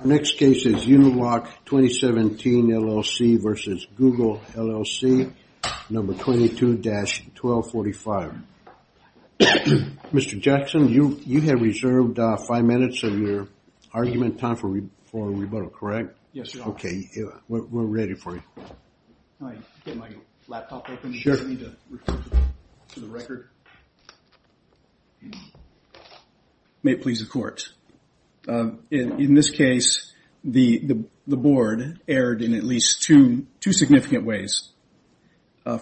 Our next case is Uniloc 2017 LLC v. Google LLC, number 22-1245. Mr. Jackson, you have reserved five minutes of your argument time for rebuttal, correct? Yes, sir. Okay, we're ready for you. Can I get my laptop open? Sure. Do I need to refer to the record? May it please the courts. In this case, the board erred in at least two significant ways.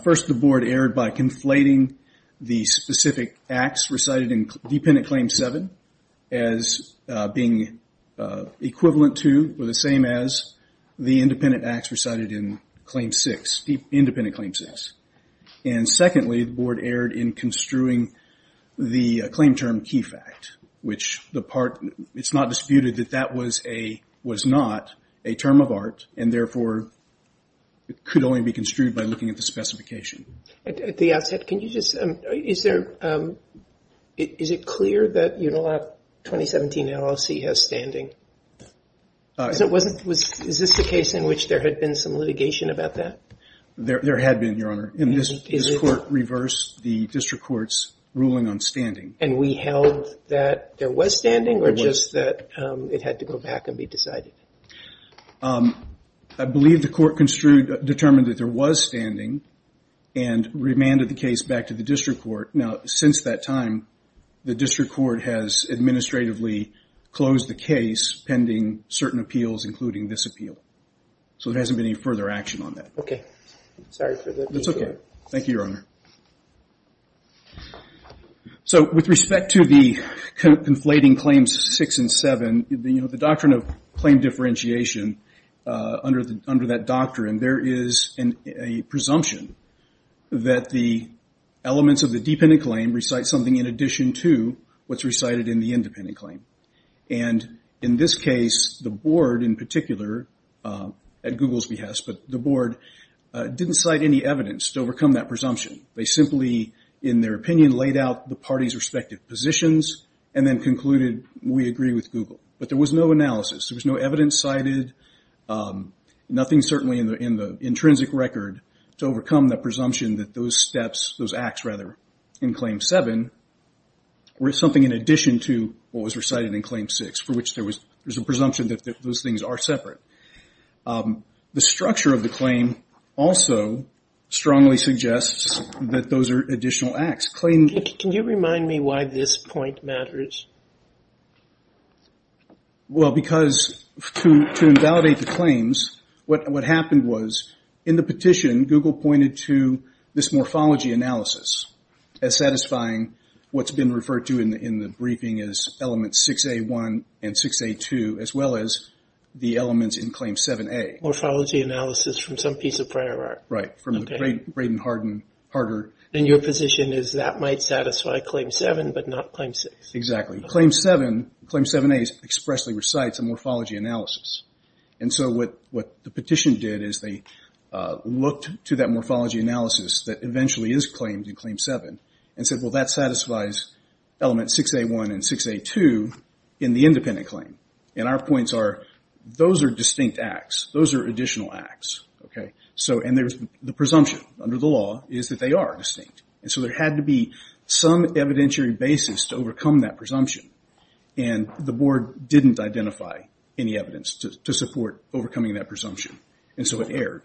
First, the board erred by conflating the specific acts recited in Dependent Claim 7 as being equivalent to or the same as the independent acts recited in Claim 6, Independent Claim 6. And secondly, the board erred in construing the claim term key fact, which the part, it's not disputed that that was not a term of art and therefore, it could only be construed by looking at the specification. At the outset, can you just, is it clear that Uniloc 2017 LLC has standing? Is this the case in which there had been some litigation about that? There had been, Your Honor. And this court reversed the district court's ruling on standing. And we held that there was standing or just that it had to go back and be decided? I believe the court determined that there was standing and remanded the case back to the district court. Now, since that time, the district court has administratively closed the case pending certain appeals, including this appeal. So there hasn't been any further action on that. Okay. Sorry for that. That's okay. Thank you, Your Honor. So with respect to the conflating Claims 6 and 7, you know, the doctrine of claim differentiation under that doctrine, there is a presumption that the elements of the dependent claim recite something in addition to what's recited in the independent claim. And in this case, the board in particular, at Google's behest, but the board didn't cite any evidence to overcome that presumption. They simply, in their opinion, laid out the parties' respective positions and then concluded, we agree with Google. But there was no analysis. There was no evidence cited, nothing certainly in the intrinsic record to overcome that presumption that those steps, those acts rather, in Claim 7 were something in addition to what was recited in Claim 6, for which there was a presumption that those things are separate. The structure of the claim also strongly suggests that those are additional acts. Can you remind me why this point matters? Well, because to invalidate the claims, what happened was in the petition, Google pointed to this morphology analysis as satisfying what's been referred to in the Claims 6A1 and 6A2, as well as the elements in Claim 7A. Morphology analysis from some piece of prior art? Right. From the Braden Hardin, Harder. And your position is that might satisfy Claim 7, but not Claim 6? Exactly. Claim 7, Claim 7A expressly recites a morphology analysis. And so what the petition did is they looked to that morphology analysis that eventually is claimed in Claim 7 and said, well, that satisfies Elements 6A1 and 6A2 in the independent claim. And our points are those are distinct acts. Those are additional acts. So and there's the presumption under the law is that they are distinct. And so there had to be some evidentiary basis to overcome that presumption. And the Board didn't identify any evidence to support overcoming that presumption. And so it erred.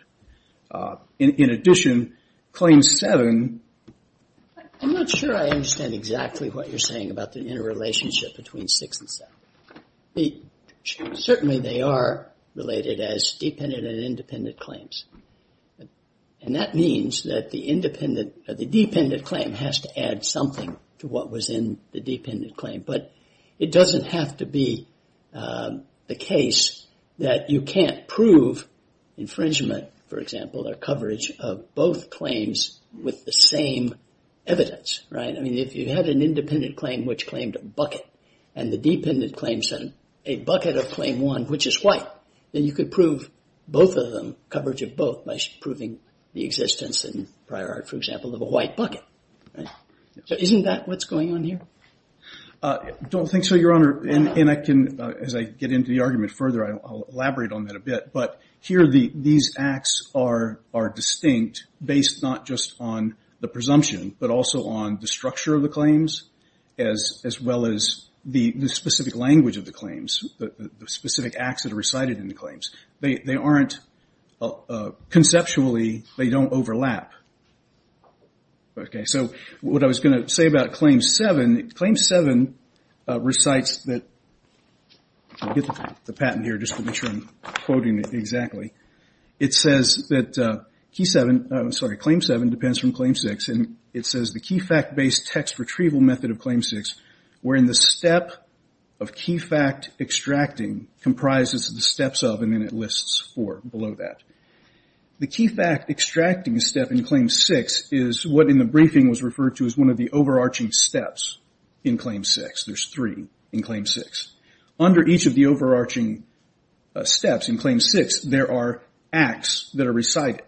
In addition, Claim 7. I'm not sure I understand exactly what you're saying about the interrelationship between 6 and 7. Certainly they are related as dependent and independent claims. And that means that the independent or the dependent claim has to add something to what was in the dependent claim. But it doesn't have to be the case that you can't prove infringement, for example, or coverage of both claims with the same evidence, right? I mean, if you had an independent claim which claimed a bucket, and the dependent claim said a bucket of Claim 1, which is white, then you could prove both of them, coverage of both, by proving the existence in prior art, for example, of a white bucket. So isn't that what's going on here? I don't think so, Your Honor. And I can, as I get into the argument further, I'll elaborate on that a bit. But here, these acts are distinct based not just on the presumption, but also on the structure of the claims, as well as the specific language of the claims, the specific acts that are recited in the claims. They aren't, conceptually, they don't overlap. Okay, so what I was going to say about Claim 7, Claim 7 recites that, I'll get the patent here just to make sure I'm quoting it exactly. It says that Claim 7 depends from Claim 6. And it says, the key fact based text retrieval method of Claim 6, wherein the step of below that. The key fact extracting step in Claim 6 is what in the briefing was referred to as one of the overarching steps in Claim 6. There's three in Claim 6. Under each of the overarching steps in Claim 6, there are acts that are recited.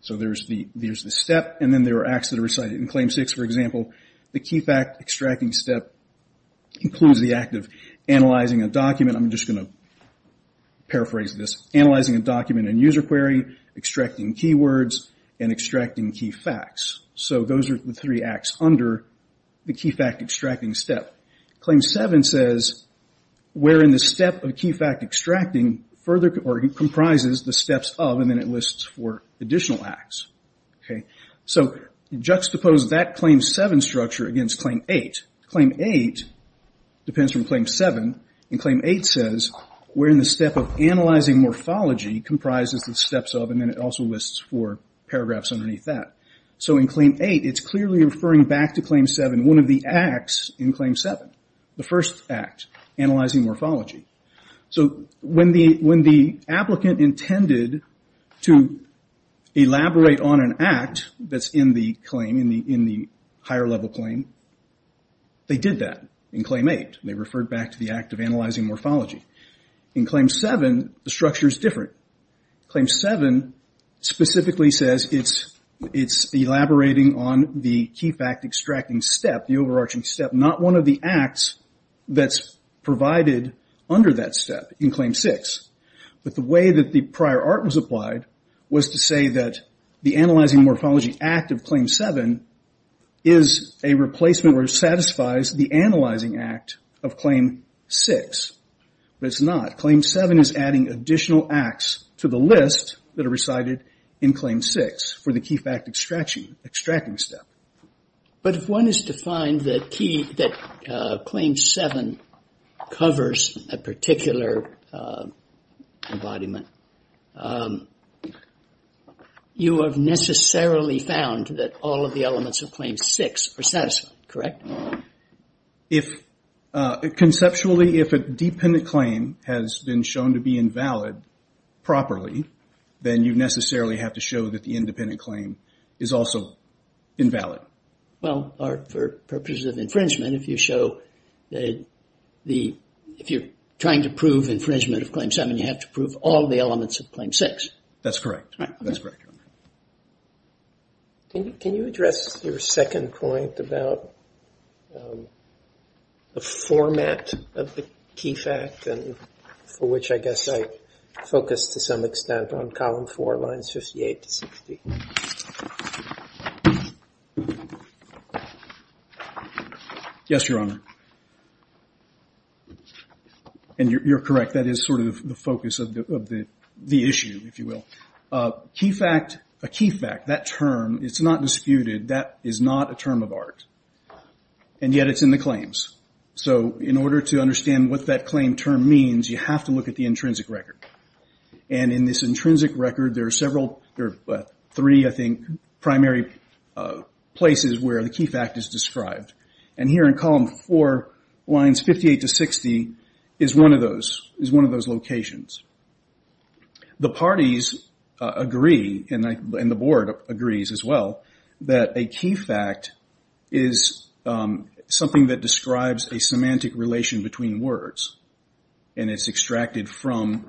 So there's the step, and then there are acts that are recited. In Claim 6, for example, the key fact extracting step includes the act of analyzing a document. I'm just going to paraphrase this. Analyzing a document in user query, extracting keywords, and extracting key facts. So those are the three acts under the key fact extracting step. Claim 7 says, wherein the step of key fact extracting further comprises the steps of, and then it lists four additional acts. So juxtapose that Claim 7 structure against Claim 8. Claim 8 depends from Claim 7. And Claim 8 says, wherein the step of analyzing morphology comprises the steps of, and then it also lists four paragraphs underneath that. So in Claim 8, it's clearly referring back to Claim 7, one of the acts in Claim 7. The first act, analyzing morphology. So when the applicant intended to elaborate on an act that's in the claim, in the higher level claim, they did that in Claim 8. They referred back to the act of analyzing morphology. In Claim 7, the structure is different. Claim 7 specifically says it's elaborating on the key fact extracting step, the overarching step, not one of the acts that's provided under that step in Claim 6. But the way that the prior art was applied was to say that the analyzing morphology act of Claim 7 is a replacement or satisfies the analyzing act of Claim 6. But it's not. Claim 7 is adding additional acts to the list that are recited in Claim 6 for the key fact extracting step. But if one is to find that Claim 7 covers a particular embodiment, you have necessarily found that all of the elements of Claim 6 are satisfied, correct? Conceptually, if a dependent claim has been shown to be invalid properly, then you necessarily have to show that the independent claim is also invalid. Well, for purposes of infringement, if you're trying to prove infringement of Claim 7, you have to prove all of the elements of Claim 6. That's correct. That's correct. Can you address your second point about the format of the key fact for which I guess I focused to some extent on Column 4, Lines 58 to 60? Yes, Your Honor. And you're correct. That is sort of the focus of the issue, if you will. A key fact, that term, it's not disputed. That is not a term of art. And yet it's in the claims. So in order to understand what that claim term means, you have to look at the intrinsic record. And in this intrinsic record, there are three, I think, primary places where the key fact is described. And here in Column 4, Lines 58 to 60, is one of those locations. The parties agree, and the Board agrees as well, that a key fact is something that describes a semantic relation between words. And it's extracted from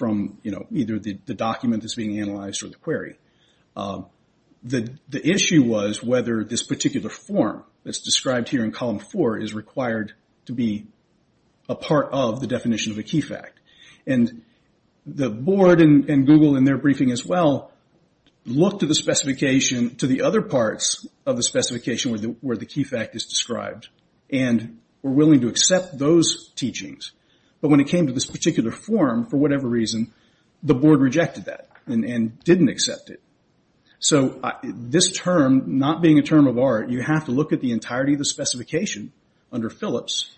either the document that's being analyzed or the query. The issue was whether this particular form that's described here in Column 4 is required to be a part of the definition of a key fact. And the Board and Google in their briefing as well looked at the specification to the other parts of the specification where the key fact is described and were willing to accept those teachings. But when it came to this particular form, for whatever reason, the Board rejected that and didn't accept it. So this term, not being a term of art, you have to look at the entirety of the specification under Phillips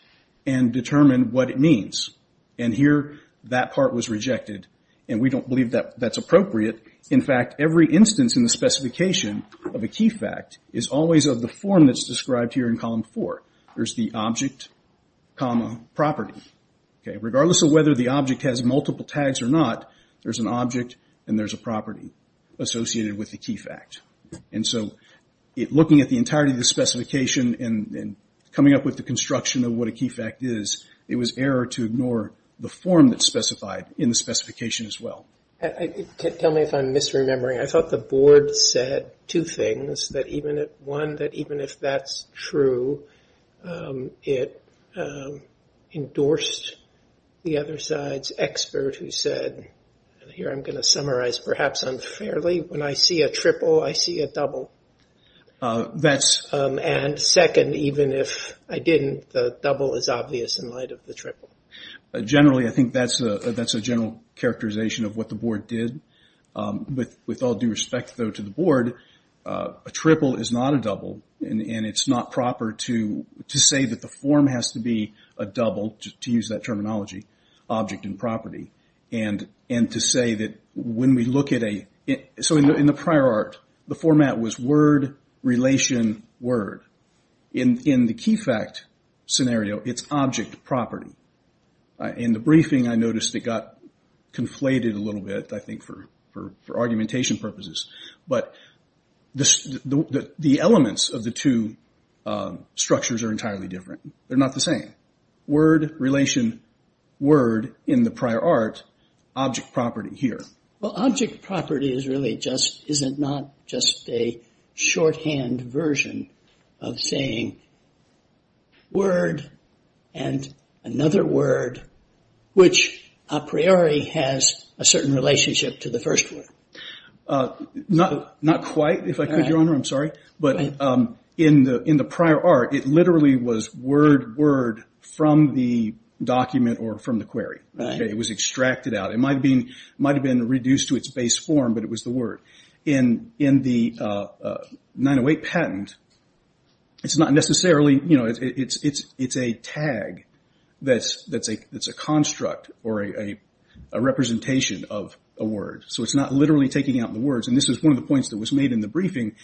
and determine what it means. And here, that part was rejected. And we don't believe that that's appropriate. In fact, every instance in the specification of a key fact is always of the form that's described here in Column 4. There's the object, property. Regardless of whether the object has multiple tags or not, there's an object and there's a property associated with the key fact. And so looking at the entirety of the specification and coming up with the construction of what a key fact is, it was error to ignore the form that's specified in the specification as well. Tell me if I'm misremembering. I thought the Board said two things. One, that even if that's true, it endorsed the other side's expert who said, and here I'm going to summarize perhaps unfairly, when I see a triple, I see a double. And second, even if I didn't, the double is obvious in light of the triple. Generally, I think that's a general characterization of what the Board did. With all due respect, though, to the Board, a triple is not a double. And it's not proper to say that the form has to be a double, to use that terminology, object and property. And to say that when we look at a – so in the prior art, the format was word, relation, word. In the key fact scenario, it's object, property. In the briefing, I noticed it got conflated a little bit, I think for argumentation purposes. But the elements of the two structures are entirely different. They're not the same. Word, relation, word in the prior art, object, property here. Well, object, property is really just – isn't not just a shorthand version of saying word and another word, which a priori has a certain relationship to the first word. Not quite, if I could, Your Honor. I'm sorry. But in the prior art, it literally was word, word, from the document or from the query. It was extracted out. It might have been reduced to its base form, but it was the word. In the 908 patent, it's not necessarily – it's a tag that's a construct or a representation of a word. So it's not literally taking out the words. And this is one of the points that was made in the briefing.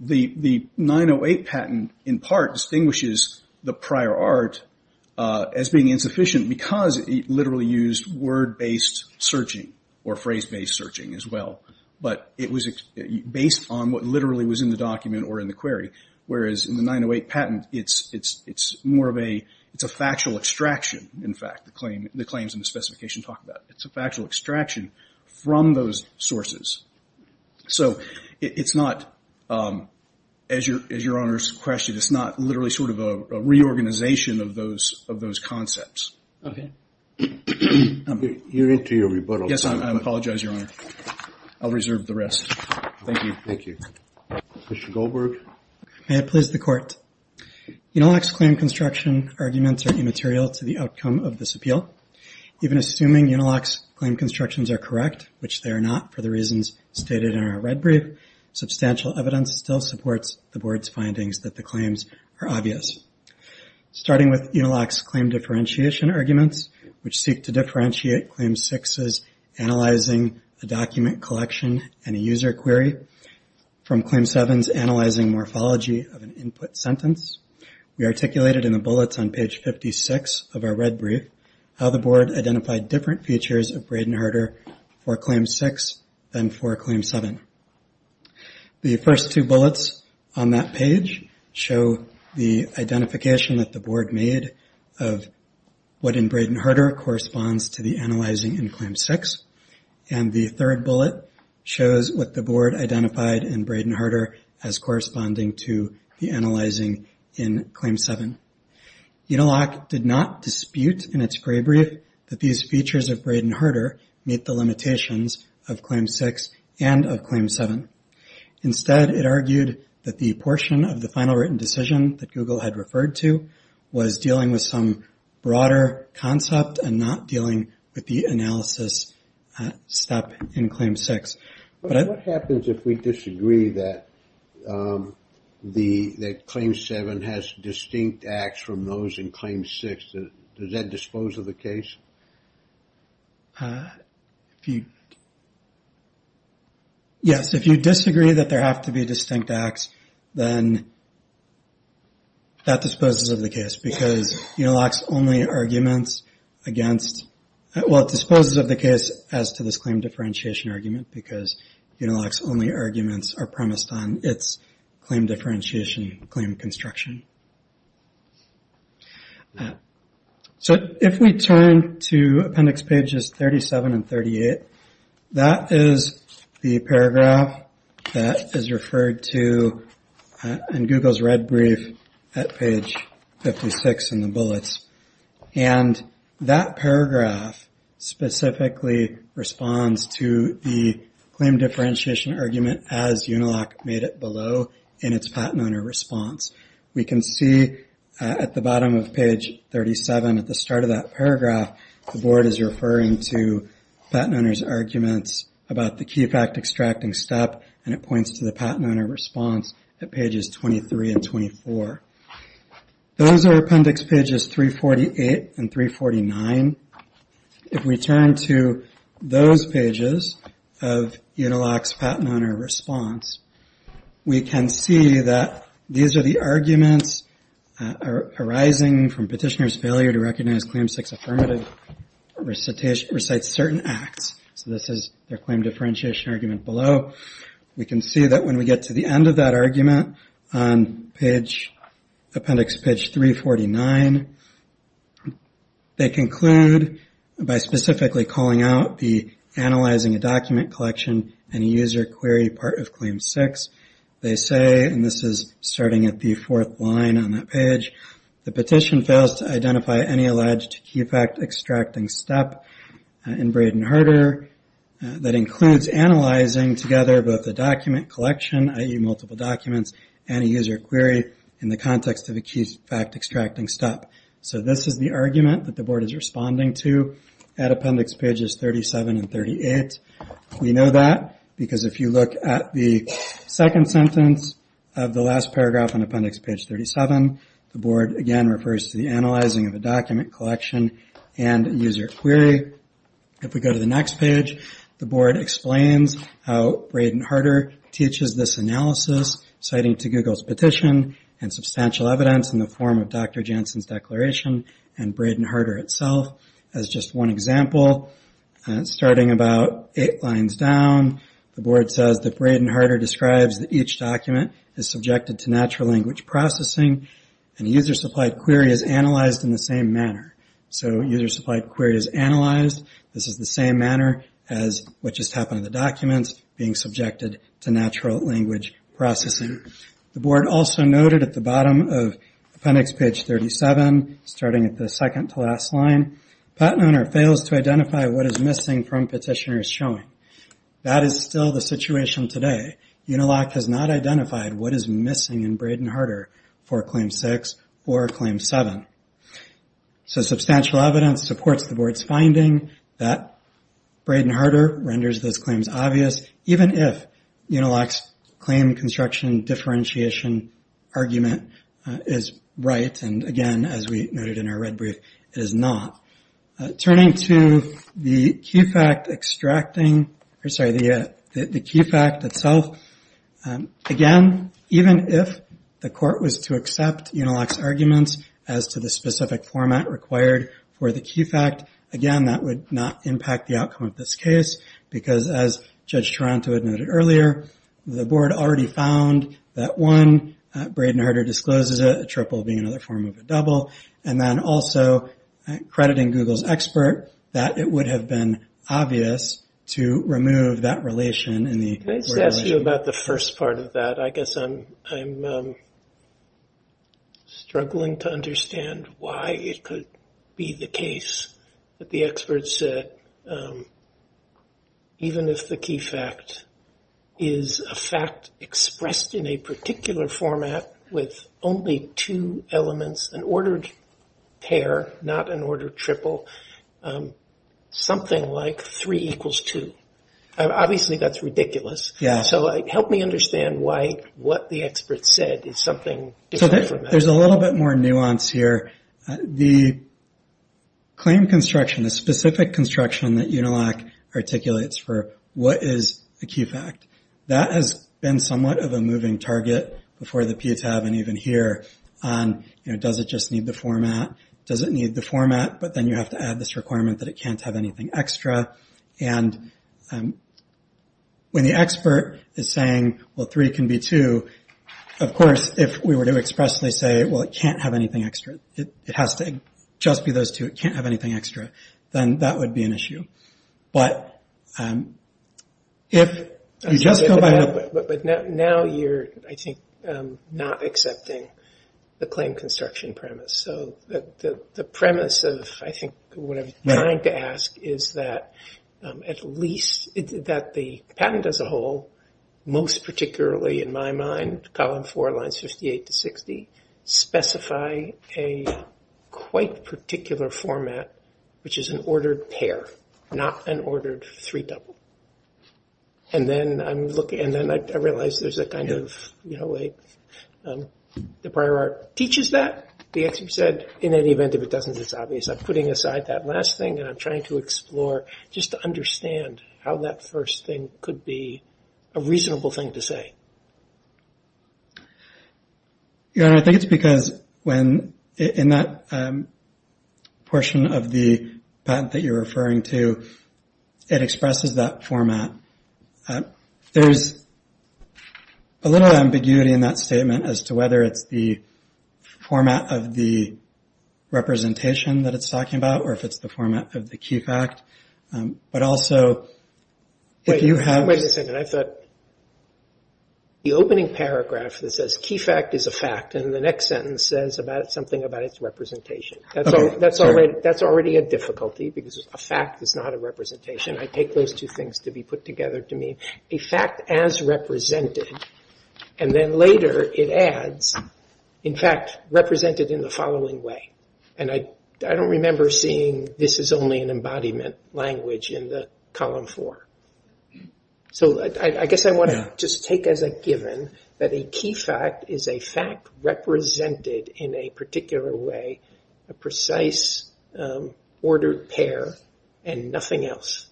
The 908 patent, in part, distinguishes the prior art as being insufficient because it literally used word-based searching or phrase-based searching as well. But it was based on what literally was in the document or in the query, whereas in the 908 patent, it's more of a – it's a factual extraction, in fact, the claims and the specification talk about. It's a factual extraction from those sources. So it's not, as Your Honor's question, it's not literally sort of a reorganization of those concepts. Okay. You're into your rebuttal. Yes, I apologize, Your Honor. I'll reserve the rest. Thank you. Thank you. Mr. Goldberg. May it please the Court. Uniloc's claim construction arguments are immaterial to the outcome of this appeal. Even assuming Uniloc's claim constructions are correct, which they are not for the reasons stated in our red brief, substantial evidence still supports the Board's findings that the claims are obvious. Starting with Uniloc's claim differentiation arguments, which seek to differentiate Claim 6's analyzing a document collection and a user query from Claim 7's analyzing morphology of an input sentence, we articulated in the bullets on page 56 of our red brief how the Board identified different features of Braden-Harder for Claim 6 than for Claim 7. The first two bullets on that page show the identification that the Board made of what in Braden-Harder corresponds to the analyzing in Claim 6, and the third bullet shows what the Board identified in Braden-Harder as the analyzing in Claim 7. Uniloc did not dispute in its gray brief that these features of Braden-Harder meet the limitations of Claim 6 and of Claim 7. Instead, it argued that the portion of the final written decision that Google had referred to was dealing with some broader concept and not dealing with the analysis step in Claim 6. But what happens if we disagree that Claim 7 has distinct acts from those in Claim 6? Does that dispose of the case? Yes, if you disagree that there have to be distinct acts, then that disposes of the case, because Uniloc's only arguments against – well, it disposes of the case as to this claim differentiation argument because Uniloc's only arguments are premised on its claim differentiation, claim construction. So if we turn to appendix pages 37 and 38, that is the paragraph that is referred to in Google's red brief at page 56 in the bullets. And that paragraph specifically responds to the claim differentiation argument as Uniloc made it below in its patent owner response. We can see at the bottom of page 37, at the start of that paragraph, the board is referring to patent owners' arguments about the key fact extracting step, and it points to the patent owner response at pages 23 and 24. Those are appendix pages 348 and 349. If we turn to those pages of Uniloc's patent owner response, we can see that these are the arguments arising from petitioner's failure to recognize Claim 6 affirmative recites certain acts. So this is their claim differentiation argument below. We can see that when we get to the end of that argument on appendix page 349, they conclude by specifically calling out the analyzing a document collection and user query part of Claim 6. They say, and this is starting at the fourth line on that page, the petition fails to identify any document collection, i.e. multiple documents, and a user query in the context of a key fact extracting step. So this is the argument that the board is responding to at appendix pages 37 and 38. We know that because if you look at the second sentence of the last paragraph on appendix page 37, the board again refers to the analyzing of a document collection and user query. If we go to the next page, the board explains how Braden Harder teaches this analysis citing to Google's petition and substantial evidence in the form of Dr. Jensen's declaration and Braden Harder itself. As just one example, starting about eight lines down, the board says that Braden Harder describes that each document is subjected to natural language processing and user supplied query is analyzed in the same manner. So user supplied query is analyzed. This is the same manner as what just happened in the documents, being subjected to natural language processing. The board also noted at the bottom of appendix page 37, starting at the second to last line, patent owner fails to identify what is missing from petitioner's showing. That is still the situation today. Unilock has not identified what is missing in Braden Harder for Claim 6 or Claim 7. So substantial evidence supports the board's finding that Braden Harder renders those claims obvious, even if Unilock's claim construction differentiation argument is right and, again, as we noted in our red brief, it is not. Turning to the key fact itself, again, even if the court was to accept Unilock's arguments as to the specific format required for the key fact, again, that would not impact the outcome of this case because, as Judge Taranto had noted earlier, the board already found that one, Braden Harder discloses it, a triple being another form of a double, and then also crediting Google's expert that it would have been obvious to remove that relation in the organization. Can I just ask you about the first part of that? I guess I'm struggling to understand why it could be the case that the expert said, even if the key fact is a fact expressed in a particular format with only two elements, an ordered pair, not an ordered triple, something like 3 equals 2. Obviously, that's ridiculous. Help me understand why what the expert said is something different from that. There's a little bit more nuance here. The claim construction, the specific construction that Unilock articulates for what is a key fact, that has been somewhat of a moving target before the PTAB and even here on does it just need the format, does it need the format, but then you have to add this requirement that it can't have anything extra. When the expert is saying, well, 3 can be 2, of course, if we were to expressly say, well, it can't have anything extra, it has to just be those two, it can't have anything extra, then that would be an issue. But now you're, I think, not accepting the claim construction premise. The premise of, I think, what I'm trying to ask is that the patent as a whole, most particularly in my mind, column 4, lines 58 to 60, specify a quite particular format, which is an ordered pair, not an ordered three-double. And then I realize there's a kind of, the prior art teaches that. The expert said, in any event, if it doesn't, it's obvious. I'm putting aside that last thing and I'm trying to explore just to understand how that first thing could be a reasonable thing to say. I think it's because when, in that portion of the patent that you're referring to, it expresses that format. There's a little ambiguity in that statement as to whether it's the format of the representation that it's talking about or if it's the format of the key fact. But also, if you have- Wait a second, I thought the opening paragraph that says key fact is a fact and the next sentence says something about its representation. That's already a difficulty because a fact is not a representation. I take those two things to be put together to mean a fact as represented, and then later it adds, in fact, represented in the following way. And I don't remember seeing this is only an embodiment language in the column 4. So I guess I want to just take as a given that a key fact is a fact represented in a particular way, a precise ordered pair, and nothing else.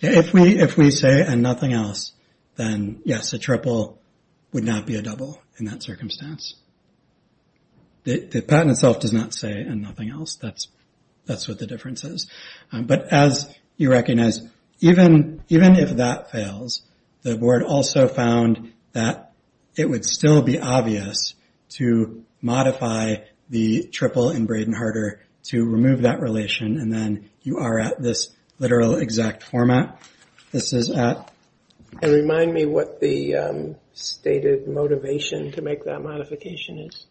If we say and nothing else, then yes, a triple would not be a double in that circumstance. The patent itself does not say and nothing else. That's what the difference is. But as you recognize, even if that fails, the board also found that it would still be obvious to modify the triple in Braden Harder to remove that relation, and then you are at this literal exact format. This is at- Remind me what the stated motivation to make that modification is.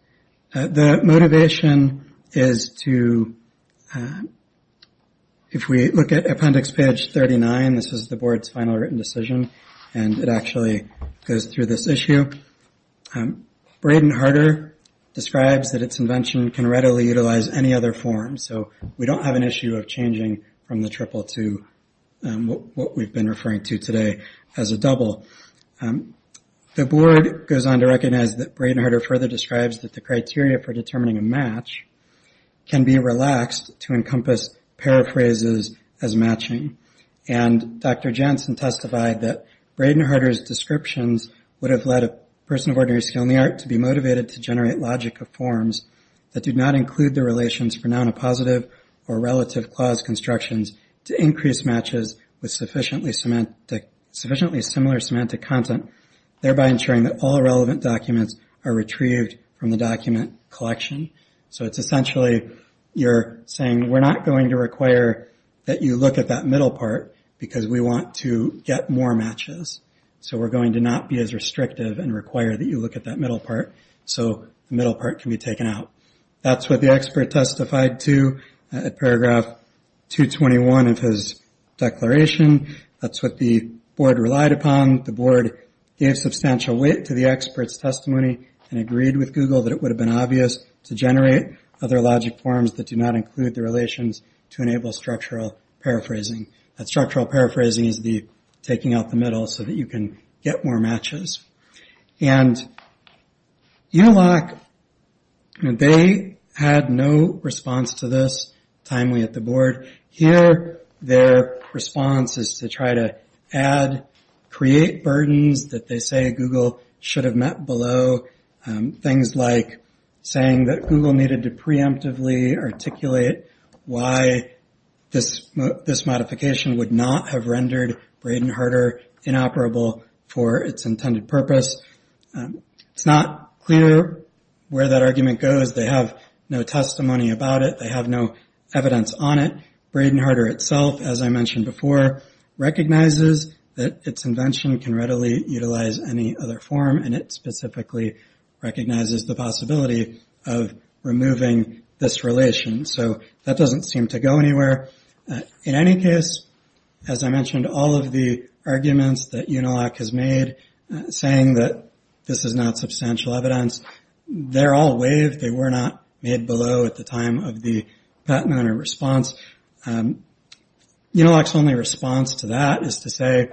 The motivation is to- If we look at appendix page 39, this is the board's final written decision, and it actually goes through this issue. Braden Harder describes that its invention can readily utilize any other form. So we don't have an issue of changing from the triple to what we've been referring to today as a double. The board goes on to recognize that Braden Harder further describes that the criteria for determining a match can be relaxed to encompass paraphrases as matching, and Dr. Janssen testified that Braden Harder's descriptions would have led a person of ordinary skill in the art to be motivated to generate logic of forms that did not include the relations for noun of positive or relative clause constructions to increase matches with sufficiently similar semantic content, thereby ensuring that all relevant documents are retrieved from the document collection. So it's essentially you're saying we're not going to require that you look at that middle part because we want to get more matches. So we're going to not be as restrictive and require that you look at that middle part so the middle part can be taken out. That's what the expert testified to at paragraph 221 of his declaration. That's what the board relied upon. The board gave substantial weight to the expert's testimony and agreed with Google that it would have been obvious to generate other logic forms that do not include the relations to enable structural paraphrasing. That structural paraphrasing is the taking out the middle so that you can get more matches. And ULOC, they had no response to this timely at the board. Here their response is to try to add, create burdens that they say Google should have met below, things like saying that Google needed to preemptively articulate why this modification would not have rendered Braden-Harder inoperable for its intended purpose. It's not clear where that argument goes. They have no testimony about it. They have no evidence on it. Braden-Harder itself, as I mentioned before, recognizes that its invention can readily utilize any other form, and it specifically recognizes the possibility of removing this relation. So that doesn't seem to go anywhere. In any case, as I mentioned, all of the arguments that UNILOC has made, saying that this is not substantial evidence, they're all waived. They were not made below at the time of the patent owner response. UNILOC's only response to that is to say,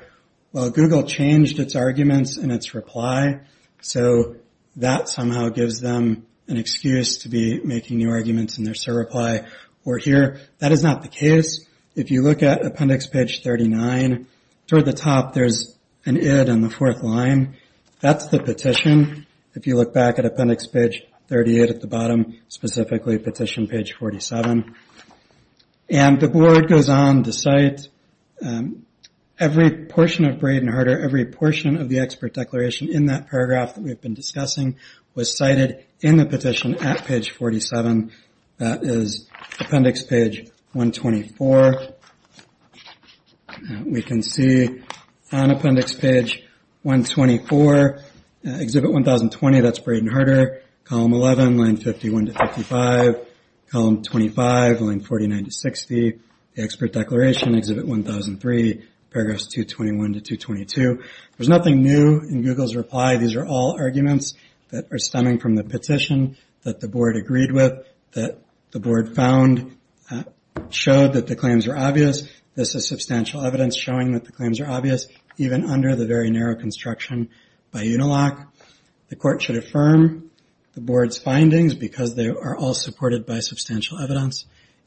well, Google changed its arguments in its reply, so that somehow gives them an excuse to be making new arguments in their surreply. That is not the case. If you look at appendix page 39, toward the top there's an id in the fourth line. That's the petition. If you look back at appendix page 38 at the bottom, specifically petition page 47. The board goes on to cite every portion of Braden-Harder, every portion of the expert declaration in that paragraph that we've been discussing was cited in the petition at page 47. That is appendix page 124. We can see on appendix page 124, exhibit 1020, that's Braden-Harder. Column 11, line 51 to 55. Column 25, line 49 to 60. The expert declaration, exhibit 1003, paragraphs 221 to 222. There's nothing new in Google's reply. These are all arguments that are stemming from the petition that the board agreed with, that the board found, showed that the claims are obvious. This is substantial evidence showing that the claims are obvious, even under the very narrow construction by UNILOC. The court should affirm the board's findings because they are all supported by substantial evidence.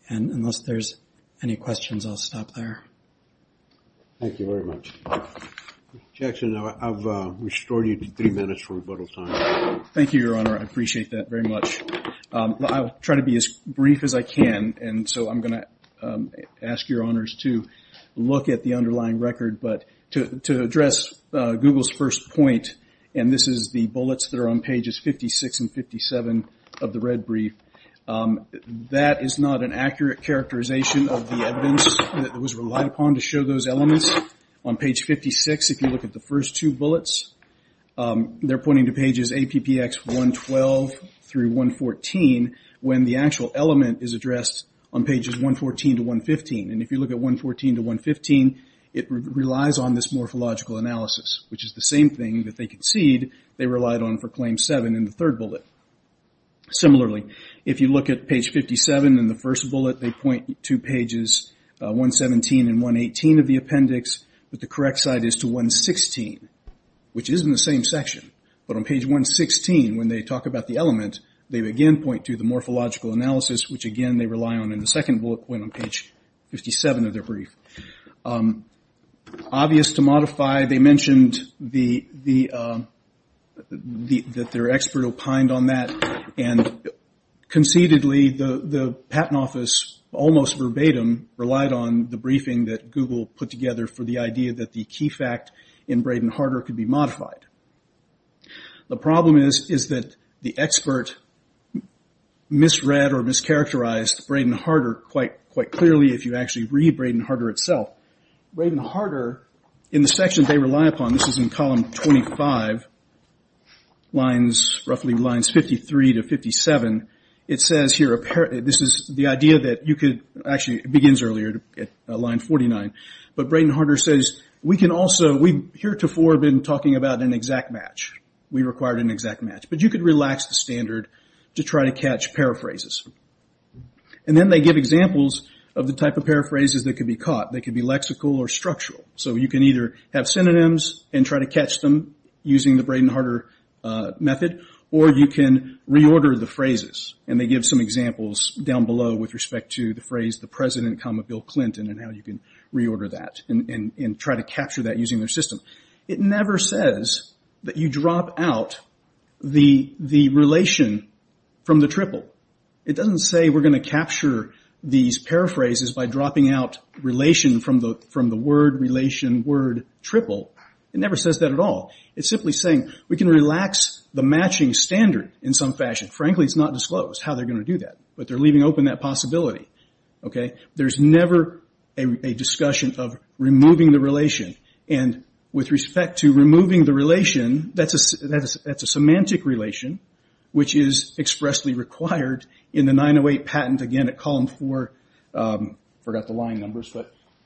Unless there's any questions, I'll stop there. Thank you very much. Mr. Jackson, I've restored you to three minutes for rebuttal time. Thank you, Your Honor. I appreciate that very much. I'll try to be as brief as I can, and so I'm going to ask Your Honors to look at the underlying record. But to address Google's first point, and this is the bullets that are on pages 56 and 57 of the red brief, that is not an accurate characterization of the evidence that was relied upon to show those elements. On page 56, if you look at the first two bullets, they're pointing to pages APPX 112 through 114, when the actual element is addressed on pages 114 to 115. And if you look at 114 to 115, it relies on this morphological analysis, which is the same thing that they concede they relied on for claim 7 in the third bullet. Similarly, if you look at page 57 in the first bullet, they point to pages 117 and 118 of the appendix, but the correct side is to 116, which is in the same section. But on page 116, when they talk about the element, they again point to the morphological analysis, which again they rely on in the second bullet point on page 57 of their brief. Obvious to modify, they mentioned that their expert opined on that, and concededly the Patent Office almost verbatim relied on the briefing that Google put together for the idea that the key fact in Braden-Harder could be modified. The problem is that the expert misread or mischaracterized Braden-Harder quite clearly. If you actually read Braden-Harder itself, Braden-Harder in the section they rely upon, this is in column 25, lines roughly lines 53 to 57, it says here apparently this is the idea that you could, actually it begins earlier at line 49, but Braden-Harder says, we can also, we heretofore have been talking about an exact match. We required an exact match, but you could relax the standard to try to catch paraphrases. Then they give examples of the type of paraphrases that could be caught. They could be lexical or structural. You can either have synonyms and try to catch them using the Braden-Harder method, or you can reorder the phrases. They give some examples down below with respect to the phrase, the President comma Bill Clinton and how you can reorder that and try to capture that using their system. It never says that you drop out the relation from the triple. It doesn't say we're going to capture these paraphrases by dropping out relation from the word relation word triple. It never says that at all. It's simply saying we can relax the matching standard in some fashion. Frankly, it's not disclosed how they're going to do that, but they're leaving open that possibility. There's never a discussion of removing the relation, and with respect to removing the relation, that's a semantic relation, which is expressly required in the 908 patent, again, at column 4. I forgot the line numbers.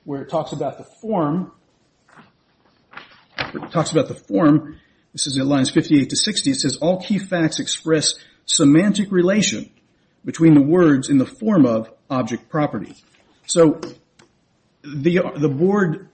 Where it talks about the form, this is at lines 58 to 60, it says all key facts express semantic relation between the words in the form of object property. The board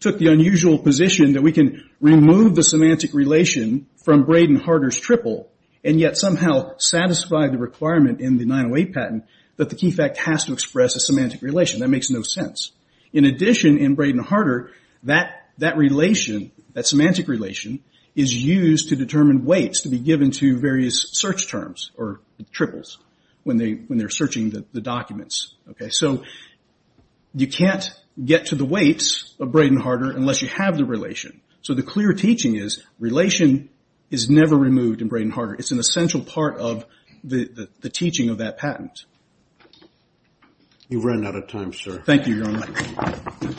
took the unusual position that we can remove the semantic relation from Braden Harder's triple and yet somehow satisfy the requirement in the 908 patent that the key fact has to express a semantic relation. That makes no sense. In addition, in Braden Harder, that relation, that semantic relation, is used to determine weights to be given to various search terms or triples when they're searching the documents. You can't get to the weights of Braden Harder unless you have the relation. So the clear teaching is relation is never removed in Braden Harder. It's an essential part of the teaching of that patent. You've run out of time, sir. You're on mic.